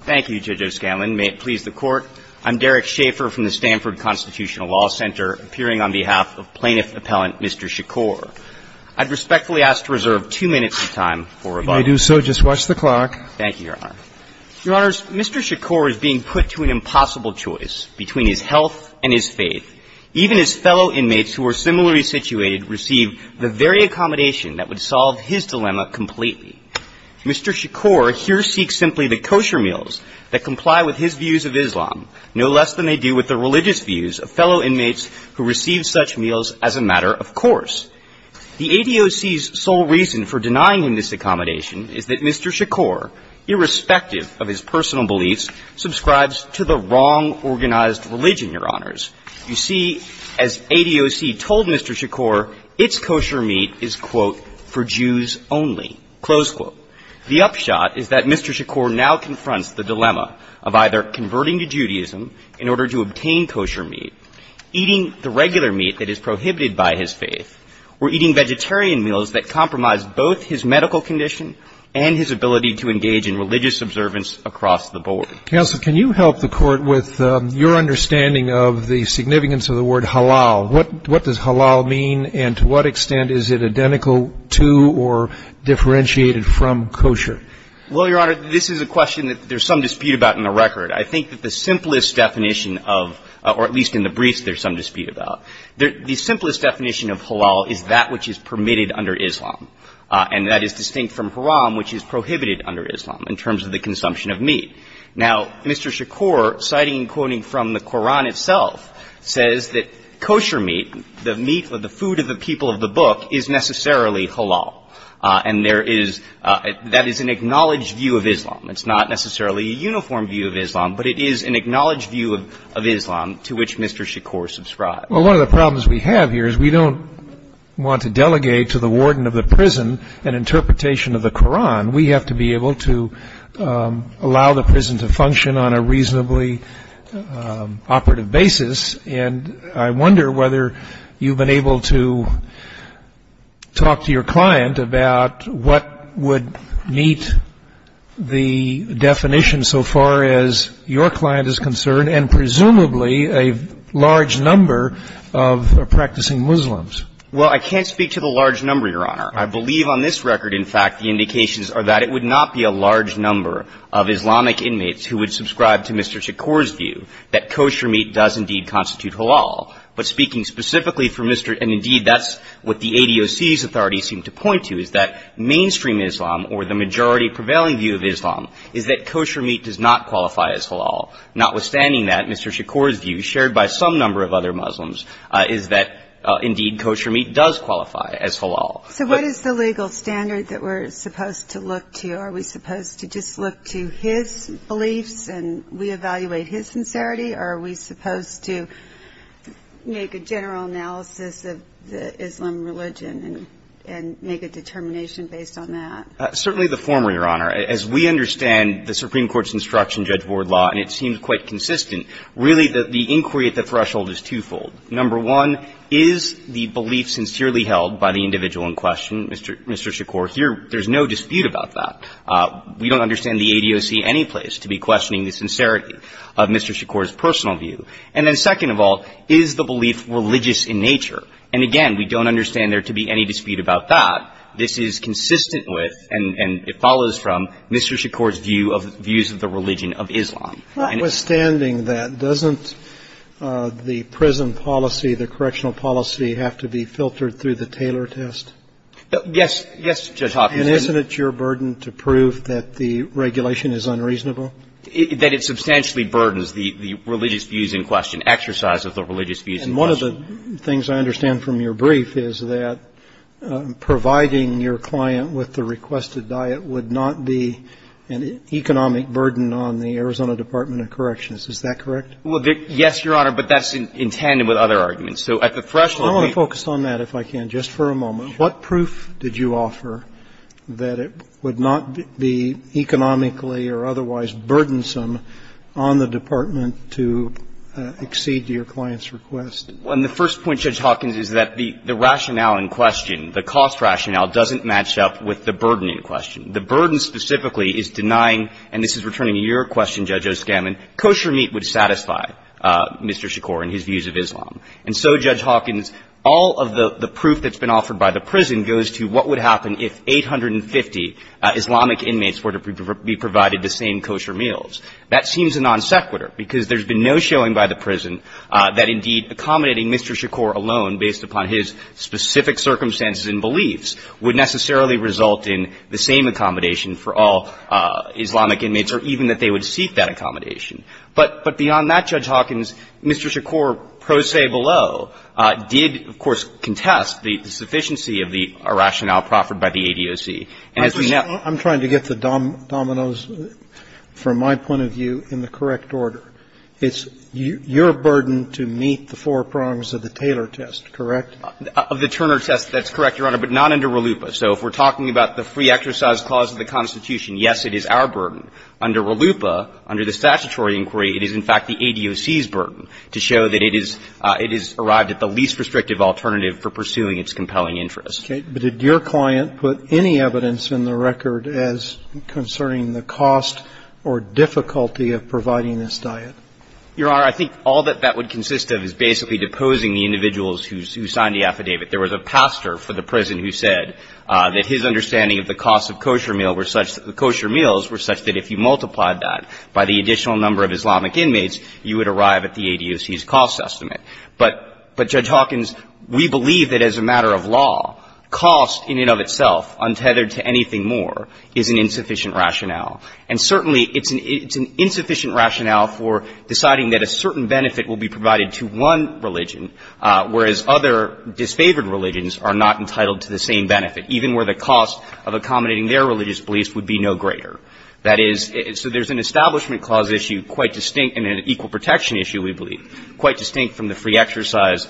Thank you, Judge O'Scanlan. May it please the Court, I'm Derek Schaeffer from the Stanford Constitutional Law Center, appearing on behalf of plaintiff appellant Mr. Shakur. I'd respectfully ask to reserve two minutes of time for rebuttal. If I do so, just watch the clock. Thank you, Your Honor. Your Honors, Mr. Shakur is being put to an impossible choice between his health and his faith. Even his fellow inmates, who are similarly situated, receive the very accommodation that would solve his dilemma completely. Mr. Shakur here seeks simply the kosher meals that comply with his views of Islam, no less than they do with the religious views of fellow inmates who receive such meals as a matter of course. The ADOC's sole reason for denying him this accommodation is that Mr. Shakur, irrespective of his personal beliefs, subscribes to the wrong organized religion, Your Honors. You see, as ADOC told Mr. Shakur, its kosher meat is, quote, for Jews only, close quote. The upshot is that Mr. Shakur now confronts the dilemma of either converting to Judaism in order to obtain kosher meat, eating the regular meat that is prohibited by his faith, or eating vegetarian meals that compromise both his medical condition and his ability to engage in religious observance across the board. Counsel, can you help the Court with your understanding of the significance of the word halal? What does halal mean, and to what extent is it identical to or differentiated from kosher? Well, Your Honor, this is a question that there's some dispute about in the record. I think that the simplest definition of, or at least in the briefs there's some dispute about, the simplest definition of halal is that which is permitted under Islam. And that is distinct from haram, which is prohibited under Islam in terms of the consumption of meat. Now, Mr. Shakur, citing and quoting from the Koran itself, says that kosher meat, the meat or the food of the people of the book, is necessarily halal. And there is, that is an acknowledged view of Islam. It's not necessarily a uniform view of Islam, but it is an acknowledged view of Islam to which Mr. Shakur subscribes. Well, one of the problems we have here is we don't want to delegate to the warden of the prison an interpretation of the Koran. We have to be able to allow the prison to function on a reasonably operative basis. And I wonder whether you've been able to talk to your client about what would meet the definition so far as your client is concerned and presumably a large number of practicing Muslims. Well, I can't speak to the large number, Your Honor. I believe on this record, in fact, the indications are that it would not be a large number of Islamic inmates who would subscribe to Mr. Shakur's view that kosher meat does indeed constitute halal. But speaking specifically for Mr. — and indeed, that's what the ADOC's authorities seem to point to, is that mainstream Islam or the majority prevailing view of Islam is that kosher meat does not qualify as halal. Notwithstanding that, Mr. Shakur's view, shared by some number of other Muslims, is that indeed kosher meat does qualify as halal. So what is the legal standard that we're supposed to look to? Are we supposed to just look to his beliefs and reevaluate his sincerity, or are we supposed to make a general analysis of the Islam religion and make a determination based on that? Certainly the former, Your Honor. As we understand the Supreme Court's instruction judge board law, and it seems quite consistent, really the inquiry at the threshold is twofold. Number one, is the belief sincerely held by the individual in question, Mr. Shakur? Here, there's no dispute about that. We don't understand the ADOC any place to be questioning the sincerity of Mr. Shakur's personal view. And then second of all, is the belief religious in nature? And again, we don't understand there to be any dispute about that. This is consistent with and it follows from Mr. Shakur's view of — views of the religion of Islam. Notwithstanding that, doesn't the prison policy, the correctional policy have to be filtered through the Taylor test? Yes. Yes, Judge Hopkins. And isn't it your burden to prove that the regulation is unreasonable? That it substantially burdens the religious views in question, exercise of the religious views in question. And one of the things I understand from your brief is that providing your client with the requested diet would not be an economic burden on the Arizona Department of Corrections, is that correct? Well, yes, Your Honor, but that's in tandem with other arguments. So at the threshold — I want to focus on that, if I can, just for a moment. Sure. What proof did you offer that it would not be economically or otherwise burdensome on the department to exceed your client's request? Well, and the first point, Judge Hopkins, is that the rationale in question, the cost rationale, doesn't match up with the burden in question. The burden specifically is denying, and this is returning to your question, Judge Oskaman, kosher meat would satisfy Mr. Shakur and his views of Islam. And so, Judge Hopkins, all of the proof that's been offered by the prison goes to what would happen if 850 Islamic inmates were to be provided the same kosher meals. That seems a non sequitur, because there's been no showing by the prison that, indeed, accommodating Mr. Shakur alone based upon his specific circumstances and beliefs would necessarily result in the same accommodation for all Islamic inmates or even that they would seek that accommodation. But beyond that, Judge Hopkins, Mr. Shakur, pro se below, did, of course, contest the sufficiency of the rationale proffered by the ADOC. And as we know — I'm trying to get the dominoes, from my point of view, in the correct order. It's your burden to meet the four prongs of the Taylor test, correct? Of the Turner test, that's correct, Your Honor, but not under RLUIPA. So if we're talking about the free exercise clause of the Constitution, yes, it is our burden. Under RLUIPA, under the statutory inquiry, it is, in fact, the ADOC's burden to show that it is — it has arrived at the least restrictive alternative for pursuing its compelling interest. Okay. But did your client put any evidence in the record as concerning the cost or difficulty of providing this diet? Your Honor, I think all that that would consist of is basically deposing the individuals who signed the affidavit. There was a pastor for the prison who said that his understanding of the cost of kosher meal were such that the kosher meals were such that if you multiplied that by the additional number of Islamic inmates, you would arrive at the ADOC's cost estimate. But, Judge Hopkins, we believe that as a matter of law, cost in and of itself, untethered to anything more, is an insufficient rationale. And certainly, it's an insufficient rationale for deciding that a certain benefit will be provided to one religion, whereas other disfavored religions are not entitled to the same benefit, even where the cost of accommodating their religious beliefs would be no greater. That is, so there's an Establishment Clause issue quite distinct, and an equal protection issue, we believe, quite distinct from the free exercise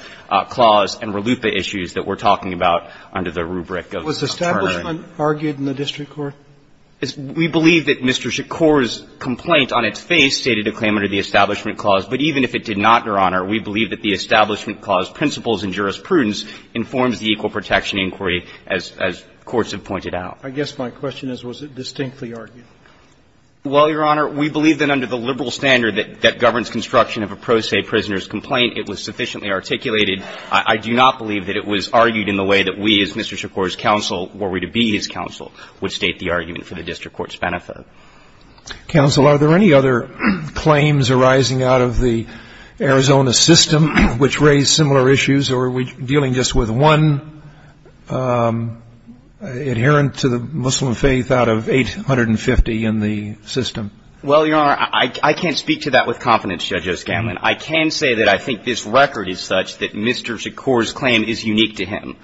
clause and RLUIPA issues that we're talking about under the rubric of partnering. Robertson argued in the district court? We believe that Mr. Shakur's complaint on its face stated a claim under the Establishment Clause, but even if it did not, Your Honor, we believe that the Establishment Clause principles and jurisprudence informs the equal protection inquiry, as courts have pointed out. I guess my question is, was it distinctly argued? Well, Your Honor, we believe that under the liberal standard that governs construction of a pro se prisoner's complaint, it was sufficiently articulated. I do not believe that it was argued in the way that we, as Mr. Shakur's counsel, were we to be his counsel, would state the argument for the district court's benefit. Counsel, are there any other claims arising out of the Arizona system which raise similar issues, or are we dealing just with one adherent to the Muslim faith out of 850 in the system? Well, Your Honor, I can't speak to that with confidence, Judge O'Scanlan. I can say that I think this record is such that Mr. Shakur's claim is unique to him,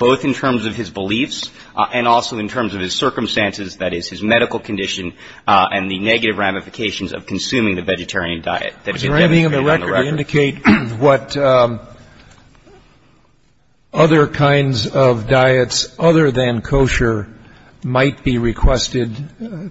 both in terms of his beliefs and also in terms of his circumstances, that is, his medical condition and the negative ramifications of consuming the vegetarian diet that he demonstrated on the record. Would you indicate what other kinds of diets other than kosher might be requested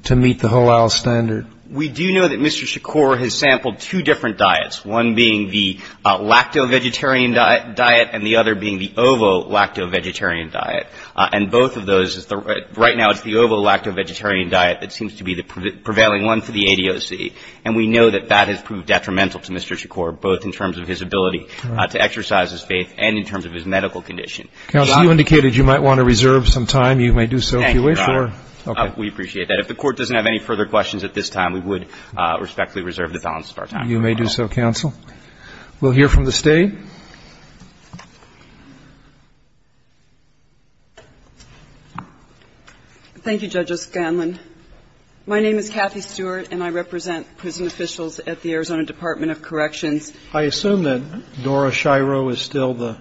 to meet the halal standard? We do know that Mr. Shakur has sampled two different diets, one being the lacto-vegetarian diet and the other being the ovo-lacto-vegetarian diet. And both of those, right now it's the ovo-lacto-vegetarian diet that seems to be the prevailing one for the ADOC. And we know that that has proved detrimental to Mr. Shakur, both in terms of his ability to exercise his faith and in terms of his medical condition. Counsel, you indicated you might want to reserve some time. You may do so if you wish. Thank you, Your Honor. We appreciate that. If the Court doesn't have any further questions at this time, we would respectfully reserve the balance of our time. You may do so, counsel. We'll hear from the State. Thank you, Judge O'Scanlan. My name is Kathy Stewart, and I represent prison officials at the Arizona Department of Corrections. I assume that Nora Shiro is still the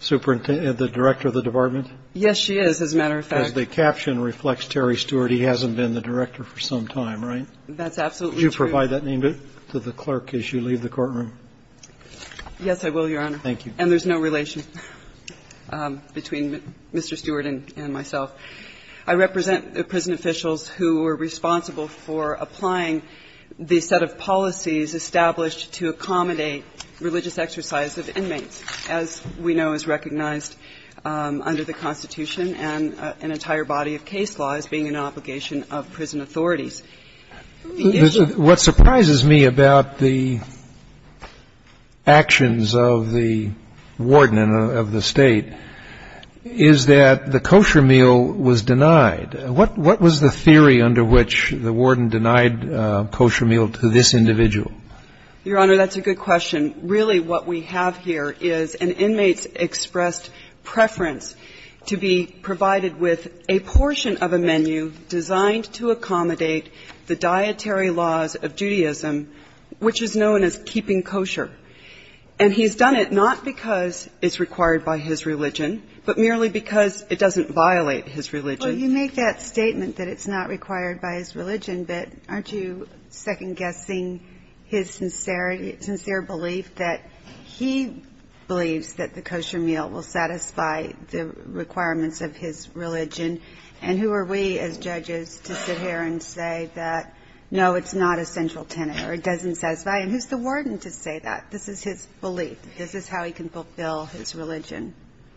superintendent, the director of the department? Yes, she is, as a matter of fact. The caption reflects Terry Stewart. He hasn't been the director for some time, right? That's absolutely true. Would you provide that name to the clerk as you leave the courtroom? Yes, I will, Your Honor. Thank you. And there's no relation between Mr. Stewart and myself. I represent the prison officials who were responsible for applying the set of policies established to accommodate religious exercise of inmates, as we know is recognized under the Constitution and an entire body of case law as being an obligation of prison authorities. What surprises me about the actions of the warden of the State is that the kosher meal was denied. What was the theory under which the warden denied kosher meal to this individual? Your Honor, that's a good question. And really what we have here is an inmate's expressed preference to be provided with a portion of a menu designed to accommodate the dietary laws of Judaism, which is known as keeping kosher. And he's done it not because it's required by his religion, but merely because it doesn't violate his religion. Well, you make that statement that it's not required by his religion, but aren't you second-guessing his sincere belief that he believes that the kosher meal will satisfy the requirements of his religion? And who are we as judges to sit here and say that, no, it's not a central tenet or it doesn't satisfy? And who's the warden to say that? This is his belief. This is how he can fulfill his religion.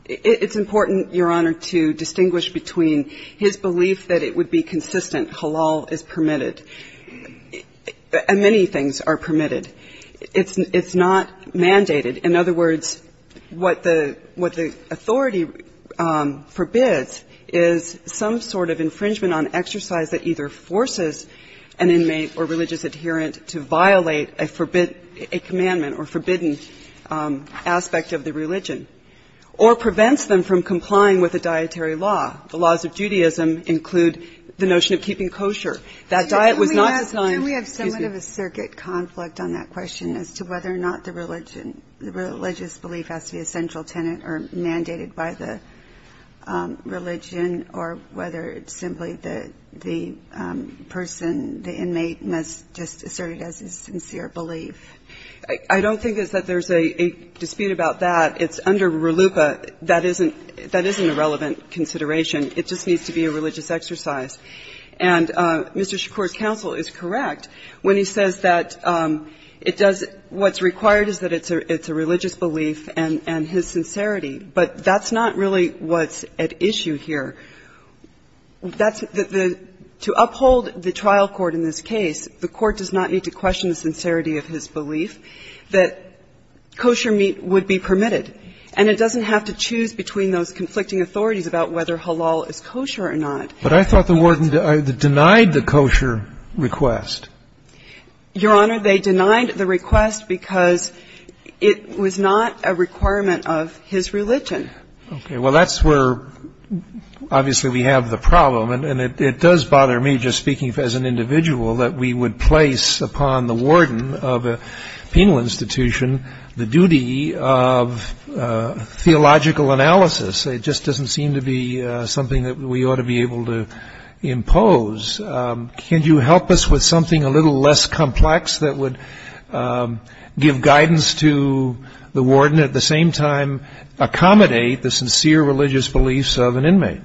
It's important, Your Honor, to distinguish between his belief that it would be consistent, that halal is permitted, and many things are permitted. It's not mandated. In other words, what the authority forbids is some sort of infringement on exercise that either forces an inmate or religious adherent to violate a forbidden aspect of the religion or prevents them from complying with the dietary law. The laws of Judaism include the notion of keeping kosher. That diet was not designed to be... Can we have somewhat of a circuit conflict on that question as to whether or not the religious belief has to be a central tenet or mandated by the religion, or whether it's simply the person, the inmate must just assert it as his sincere belief? I don't think that there's a dispute about that. It's under RLUIPA. That isn't a relevant consideration. It just needs to be a religious exercise. And Mr. Shakur's counsel is correct when he says that it does what's required is that it's a religious belief and his sincerity. But that's not really what's at issue here. That's the – to uphold the trial court in this case, the court does not need to question the sincerity of his belief that kosher meat would be permitted. And it doesn't have to choose between those conflicting authorities about whether halal is kosher or not. But I thought the warden denied the kosher request. Your Honor, they denied the request because it was not a requirement of his religion. Okay. Well, that's where, obviously, we have the problem. And it does bother me, just speaking as an individual, that we would place upon the theological analysis. It just doesn't seem to be something that we ought to be able to impose. Can you help us with something a little less complex that would give guidance to the warden, at the same time accommodate the sincere religious beliefs of an inmate?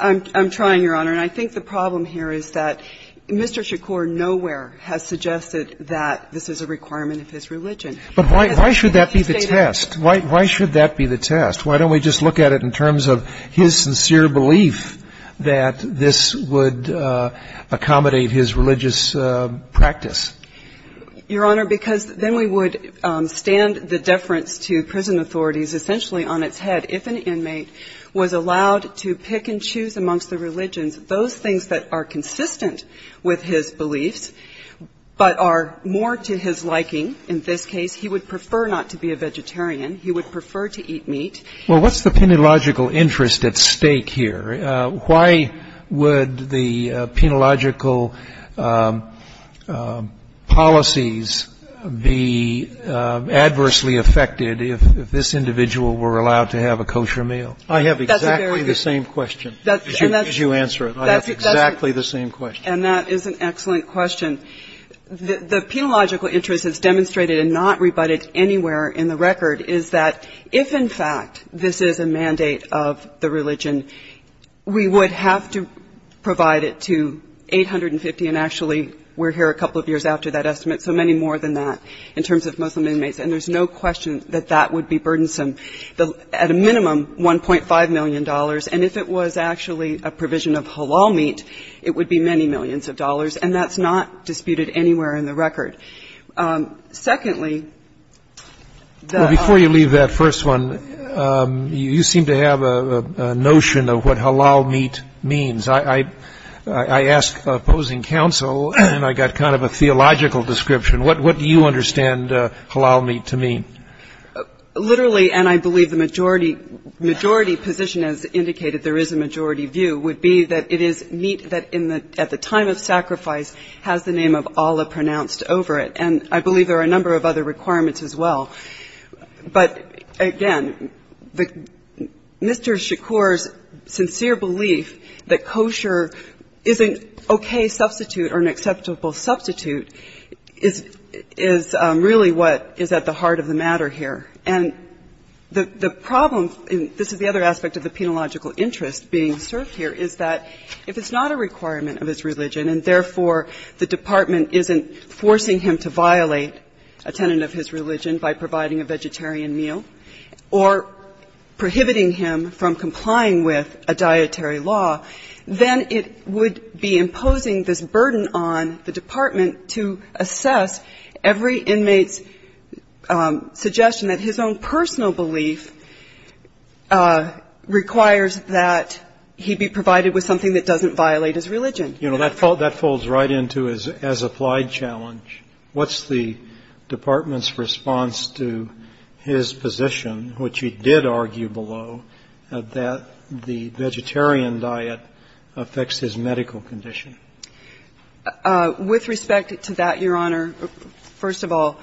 I'm trying, Your Honor. And I think the problem here is that Mr. Shakur nowhere has suggested that this is a requirement of his religion. But why should that be the test? Why should that be the test? Why don't we just look at it in terms of his sincere belief that this would accommodate his religious practice? Your Honor, because then we would stand the deference to prison authorities essentially on its head. If an inmate was allowed to pick and choose amongst the religions, those things that are consistent with his beliefs, but are more to his liking, in this case, he would prefer not to be a vegetarian. He would prefer to eat meat. Well, what's the penological interest at stake here? Why would the penological policies be adversely affected if this individual were allowed to have a kosher meal? I have exactly the same question as you answer it. I have exactly the same question. And that is an excellent question. The penological interest as demonstrated and not rebutted anywhere in the record is that if, in fact, this is a mandate of the religion, we would have to provide it to 850, and actually we're here a couple of years after that estimate, so many more than that in terms of Muslim inmates. And there's no question that that would be burdensome, at a minimum $1.5 million. And if it was actually a provision of halal meat, it would be many millions of dollars. And that's not disputed anywhere in the record. Secondly, the ---- Well, before you leave that first one, you seem to have a notion of what halal meat means. I asked opposing counsel, and I got kind of a theological description. What do you understand halal meat to mean? Literally, and I believe the majority position has indicated there is a majority view, would be that it is meat that at the time of sacrifice has the name of Allah pronounced over it. And I believe there are a number of other requirements as well. But, again, Mr. Shakur's sincere belief that kosher is an okay substitute or an acceptable substitute is really what is at the heart of the matter here. And the problem, and this is the other aspect of the penological interest being served here, is that if it's not a requirement of its religion and, therefore, the Department isn't forcing him to violate a tenant of his religion by providing a vegetarian meal or prohibiting him from complying with a dietary law, then it would be imposing this burden on the Department to assess every inmate's suggestion that his own personal belief requires that he be provided with something that doesn't violate his religion. You know, that falls right into his as-applied challenge. What's the Department's response to his position, which he did argue below, that the vegetarian diet affects his medical condition? With respect to that, Your Honor, first of all,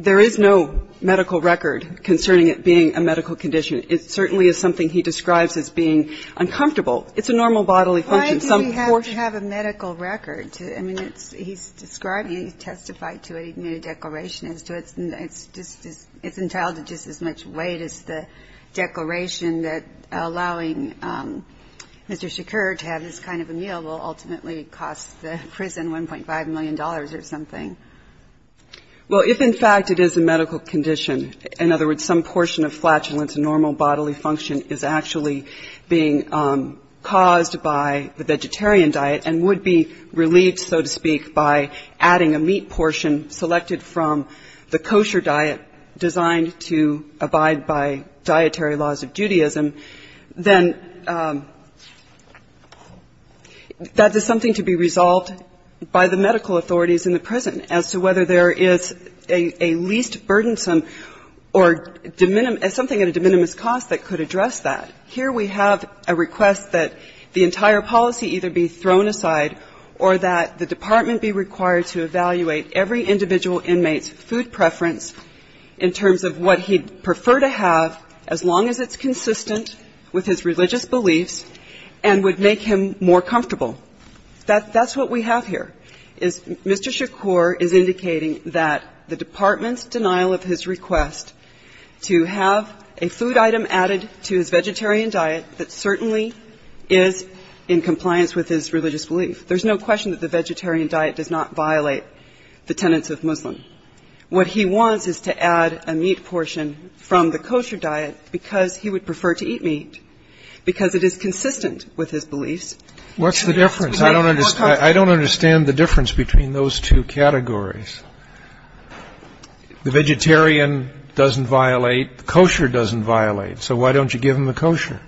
there is no medical record concerning it being a medical condition. It certainly is something he describes as being uncomfortable. It's a normal bodily function. Some portion of it is not. Why does he have to have a medical record? I mean, it's he's describing it. He testified to it. He made a declaration as to it. And it's just, it's entitled to just as much weight as the declaration that allowing Mr. Shakur to have this kind of a meal will ultimately cost the prison $1.5 million or something. Well, if in fact it is a medical condition, in other words, some portion of flatulence, a normal bodily function, is actually being caused by the vegetarian diet and would be relieved, so to speak, by adding a meat portion selected from the kosher diet designed to abide by dietary laws of Judaism, then that is something to be resolved by the medical authorities in the prison as to whether there is a least burdensome or something at a de minimis cost that could address that. Here we have a request that the entire policy either be thrown aside or that the Department be required to evaluate every individual inmate's food preference in terms of what he'd prefer to have as long as it's consistent with his religious beliefs and would make him more comfortable. That's what we have here, is Mr. Shakur is indicating that the Department's is in compliance with his religious belief. There's no question that the vegetarian diet does not violate the tenets of Muslim. What he wants is to add a meat portion from the kosher diet because he would prefer to eat meat because it is consistent with his beliefs. What's the difference? I don't understand the difference between those two categories. The vegetarian doesn't violate, the kosher doesn't violate, so why don't you give him the kosher?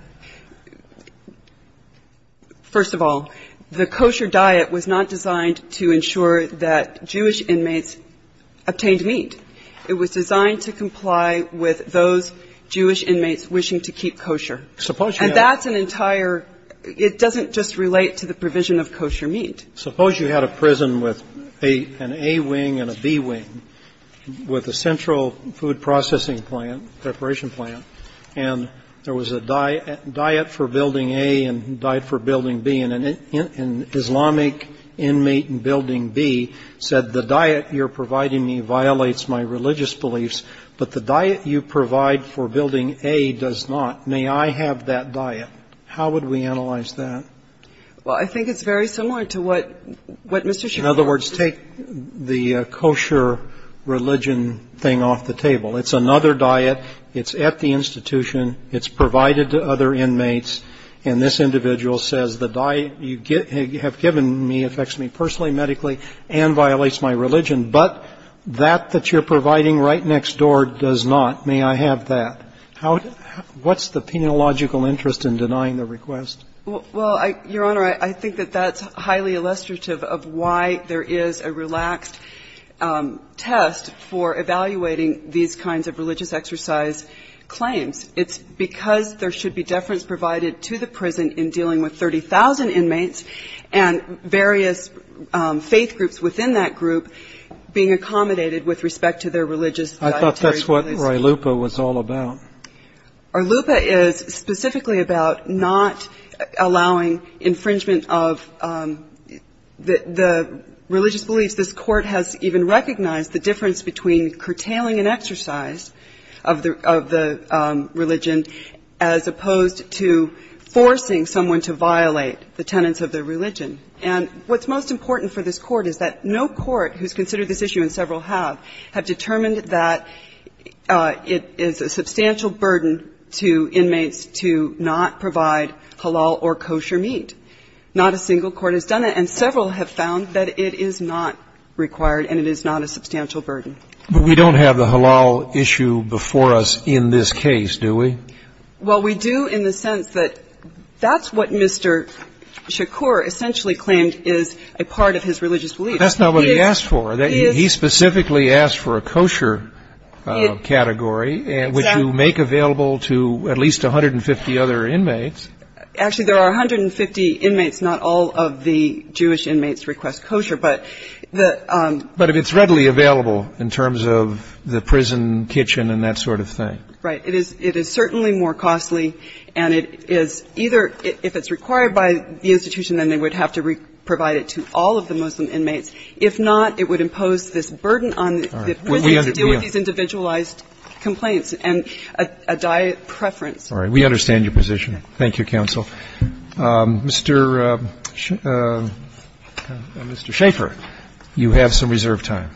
First of all, the kosher diet was not designed to ensure that Jewish inmates obtained meat. It was designed to comply with those Jewish inmates wishing to keep kosher. And that's an entire – it doesn't just relate to the provision of kosher meat. Suppose you had a prison with an A wing and a B wing with a central food processing plant, preparation plant, and there was a diet for building A and a diet for building B, and an Islamic inmate in building B said the diet you're providing me violates my religious beliefs, but the diet you provide for building A does not. May I have that diet? How would we analyze that? Well, I think it's very similar to what Mr. Shakur was saying. It's another diet. It's at the institution. It's provided to other inmates. And this individual says the diet you have given me affects me personally, medically, and violates my religion, but that that you're providing right next door does not. May I have that? What's the penological interest in denying the request? Well, Your Honor, I think that that's highly illustrative of why there is a relaxed test for evaluating these kinds of religious exercise claims. It's because there should be deference provided to the prison in dealing with 30,000 inmates and various faith groups within that group being accommodated with respect to their religious dietary beliefs. I thought that's what RILUPA was all about. RILUPA is specifically about not allowing infringement of the religious beliefs this Court has even recognized the difference between curtailing an exercise of the religion as opposed to forcing someone to violate the tenets of their religion. And what's most important for this Court is that no court who's considered this issue, and several have, have determined that it is a substantial burden to inmates to not provide halal or kosher meat. Not a single court has done that, and several have found that it is not required and it is not a substantial burden. But we don't have the halal issue before us in this case, do we? Well, we do in the sense that that's what Mr. Shakur essentially claimed is a part of his religious belief. But that's not what he asked for. He specifically asked for a kosher category, which you make available to at least 150 other inmates. Actually, there are 150 inmates. Not all of the Jewish inmates request kosher. But the ‑‑ But if it's readily available in terms of the prison kitchen and that sort of thing. Right. It is certainly more costly, and it is either ‑‑ if it's required by the institution, then they would have to provide it to all of the Muslim inmates. If not, it would impose this burden on the prison to deal with these individualized complaints and a diet preference. All right. We understand your position. Thank you, counsel. Mr. Schaffer, you have some reserved time.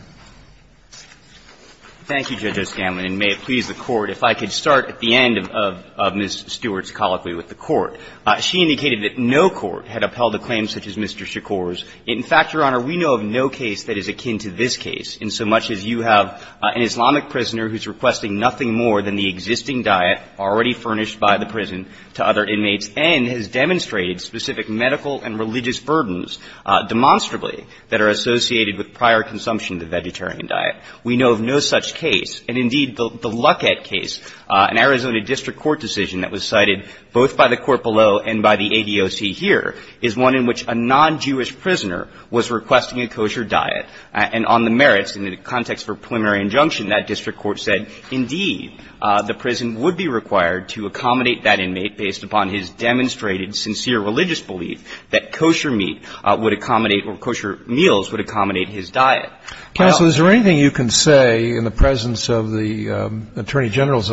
Thank you, Judge O'Scanlan, and may it please the Court, if I could start at the end of Ms. Stewart's colloquy with the Court. She indicated that no court had upheld a claim such as Mr. Shakur's. In fact, Your Honor, we know of no case that is akin to this case, in so much as you have an Islamic prisoner who is requesting nothing more than the existing diet already furnished by the prison to other inmates and has demonstrated specific medical and religious burdens demonstrably that are associated with prior consumption of the vegetarian diet. We know of no such case. And indeed, the Luckett case, an Arizona district court decision that was cited both by the court below and by the ADOC here, is one in which a non‑Jewish prisoner was requesting a kosher diet. And on the merits, in the context of a preliminary injunction, that district court said, indeed, the prison would be required to accommodate that inmate based upon his demonstrated sincere religious belief that kosher meat would accommodate or kosher meals would accommodate his diet. Counsel, is there anything you can say in the presence of the Attorney General's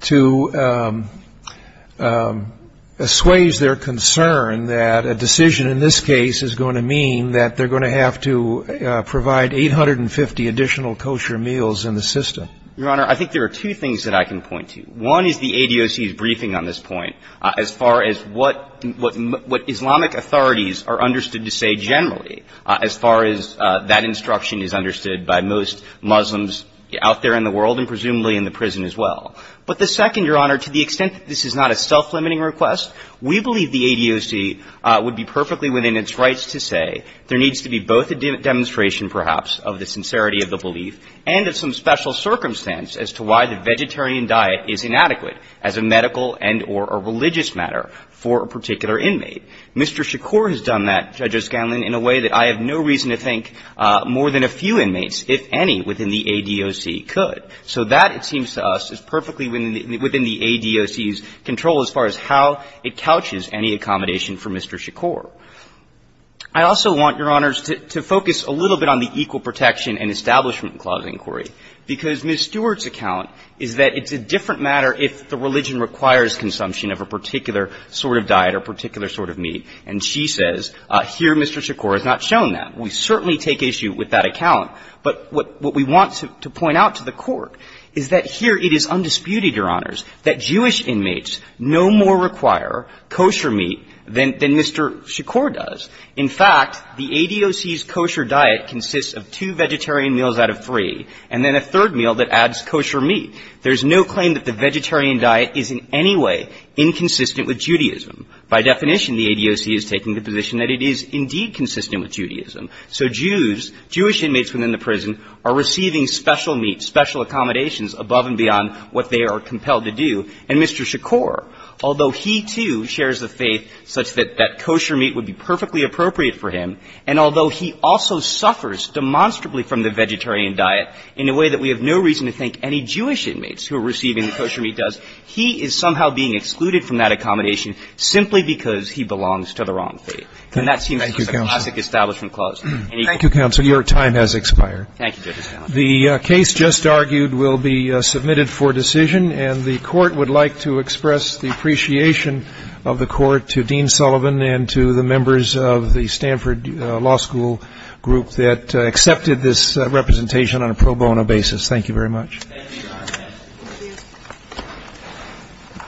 to assuage their concern that a decision in this case is going to mean that they're going to have to provide 850 additional kosher meals in the system? Your Honor, I think there are two things that I can point to. One is the ADOC's briefing on this point. As far as what Islamic authorities are understood to say generally, as far as that instruction is understood by most Muslims out there in the world and presumably in the prison as well. But the second, Your Honor, to the extent that this is not a self‑limiting request, we believe the ADOC would be perfectly within its rights to say there needs to be both a demonstration, perhaps, of the sincerity of the belief and of some special circumstance as to why the vegetarian diet is inadequate as a medical and or a religious matter for a particular inmate. Mr. Shakur has done that, Judge O'Scanlan, in a way that I have no reason to think more than a few inmates, if any, within the ADOC could. So that, it seems to us, is perfectly within the ADOC's control as far as how it couches any accommodation for Mr. Shakur. I also want, Your Honors, to focus a little bit on the equal protection and establishment clause inquiry, because Ms. Stewart's account is that it's a different matter if the religion requires consumption of a particular sort of diet or particular sort of meat. And she says, here Mr. Shakur has not shown that. We certainly take issue with that account. But what we want to point out to the Court is that here it is undisputed, Your Honors, that Jewish inmates no more require kosher meat than Mr. Shakur does. In fact, the ADOC's kosher diet consists of two vegetarian meals out of three, and then a third meal that adds kosher meat. There's no claim that the vegetarian diet is in any way inconsistent with Judaism. By definition, the ADOC is taking the position that it is indeed consistent with Judaism. So Jews, Jewish inmates within the prison are receiving special meat, special accommodations above and beyond what they are compelled to do. And Mr. Shakur, although he, too, shares the faith such that that kosher meat would be perfectly appropriate for him, and although he also suffers demonstrably from the vegetarian diet in a way that we have no reason to think any Jewish inmates who are receiving the kosher meat does, he is somehow being excluded from that accommodation simply because he belongs to the wrong faith. And that seems to be a classic establishment clause. Thank you, Counsel. Your time has expired. Thank you, Justice Kennedy. The case just argued will be submitted for decision, and the Court would like to express the appreciation of the Court to Dean Sullivan and to the members of the Stanford Law School group that accepted this representation on a pro bono basis. Thank you very much. Thank you, Your Honor.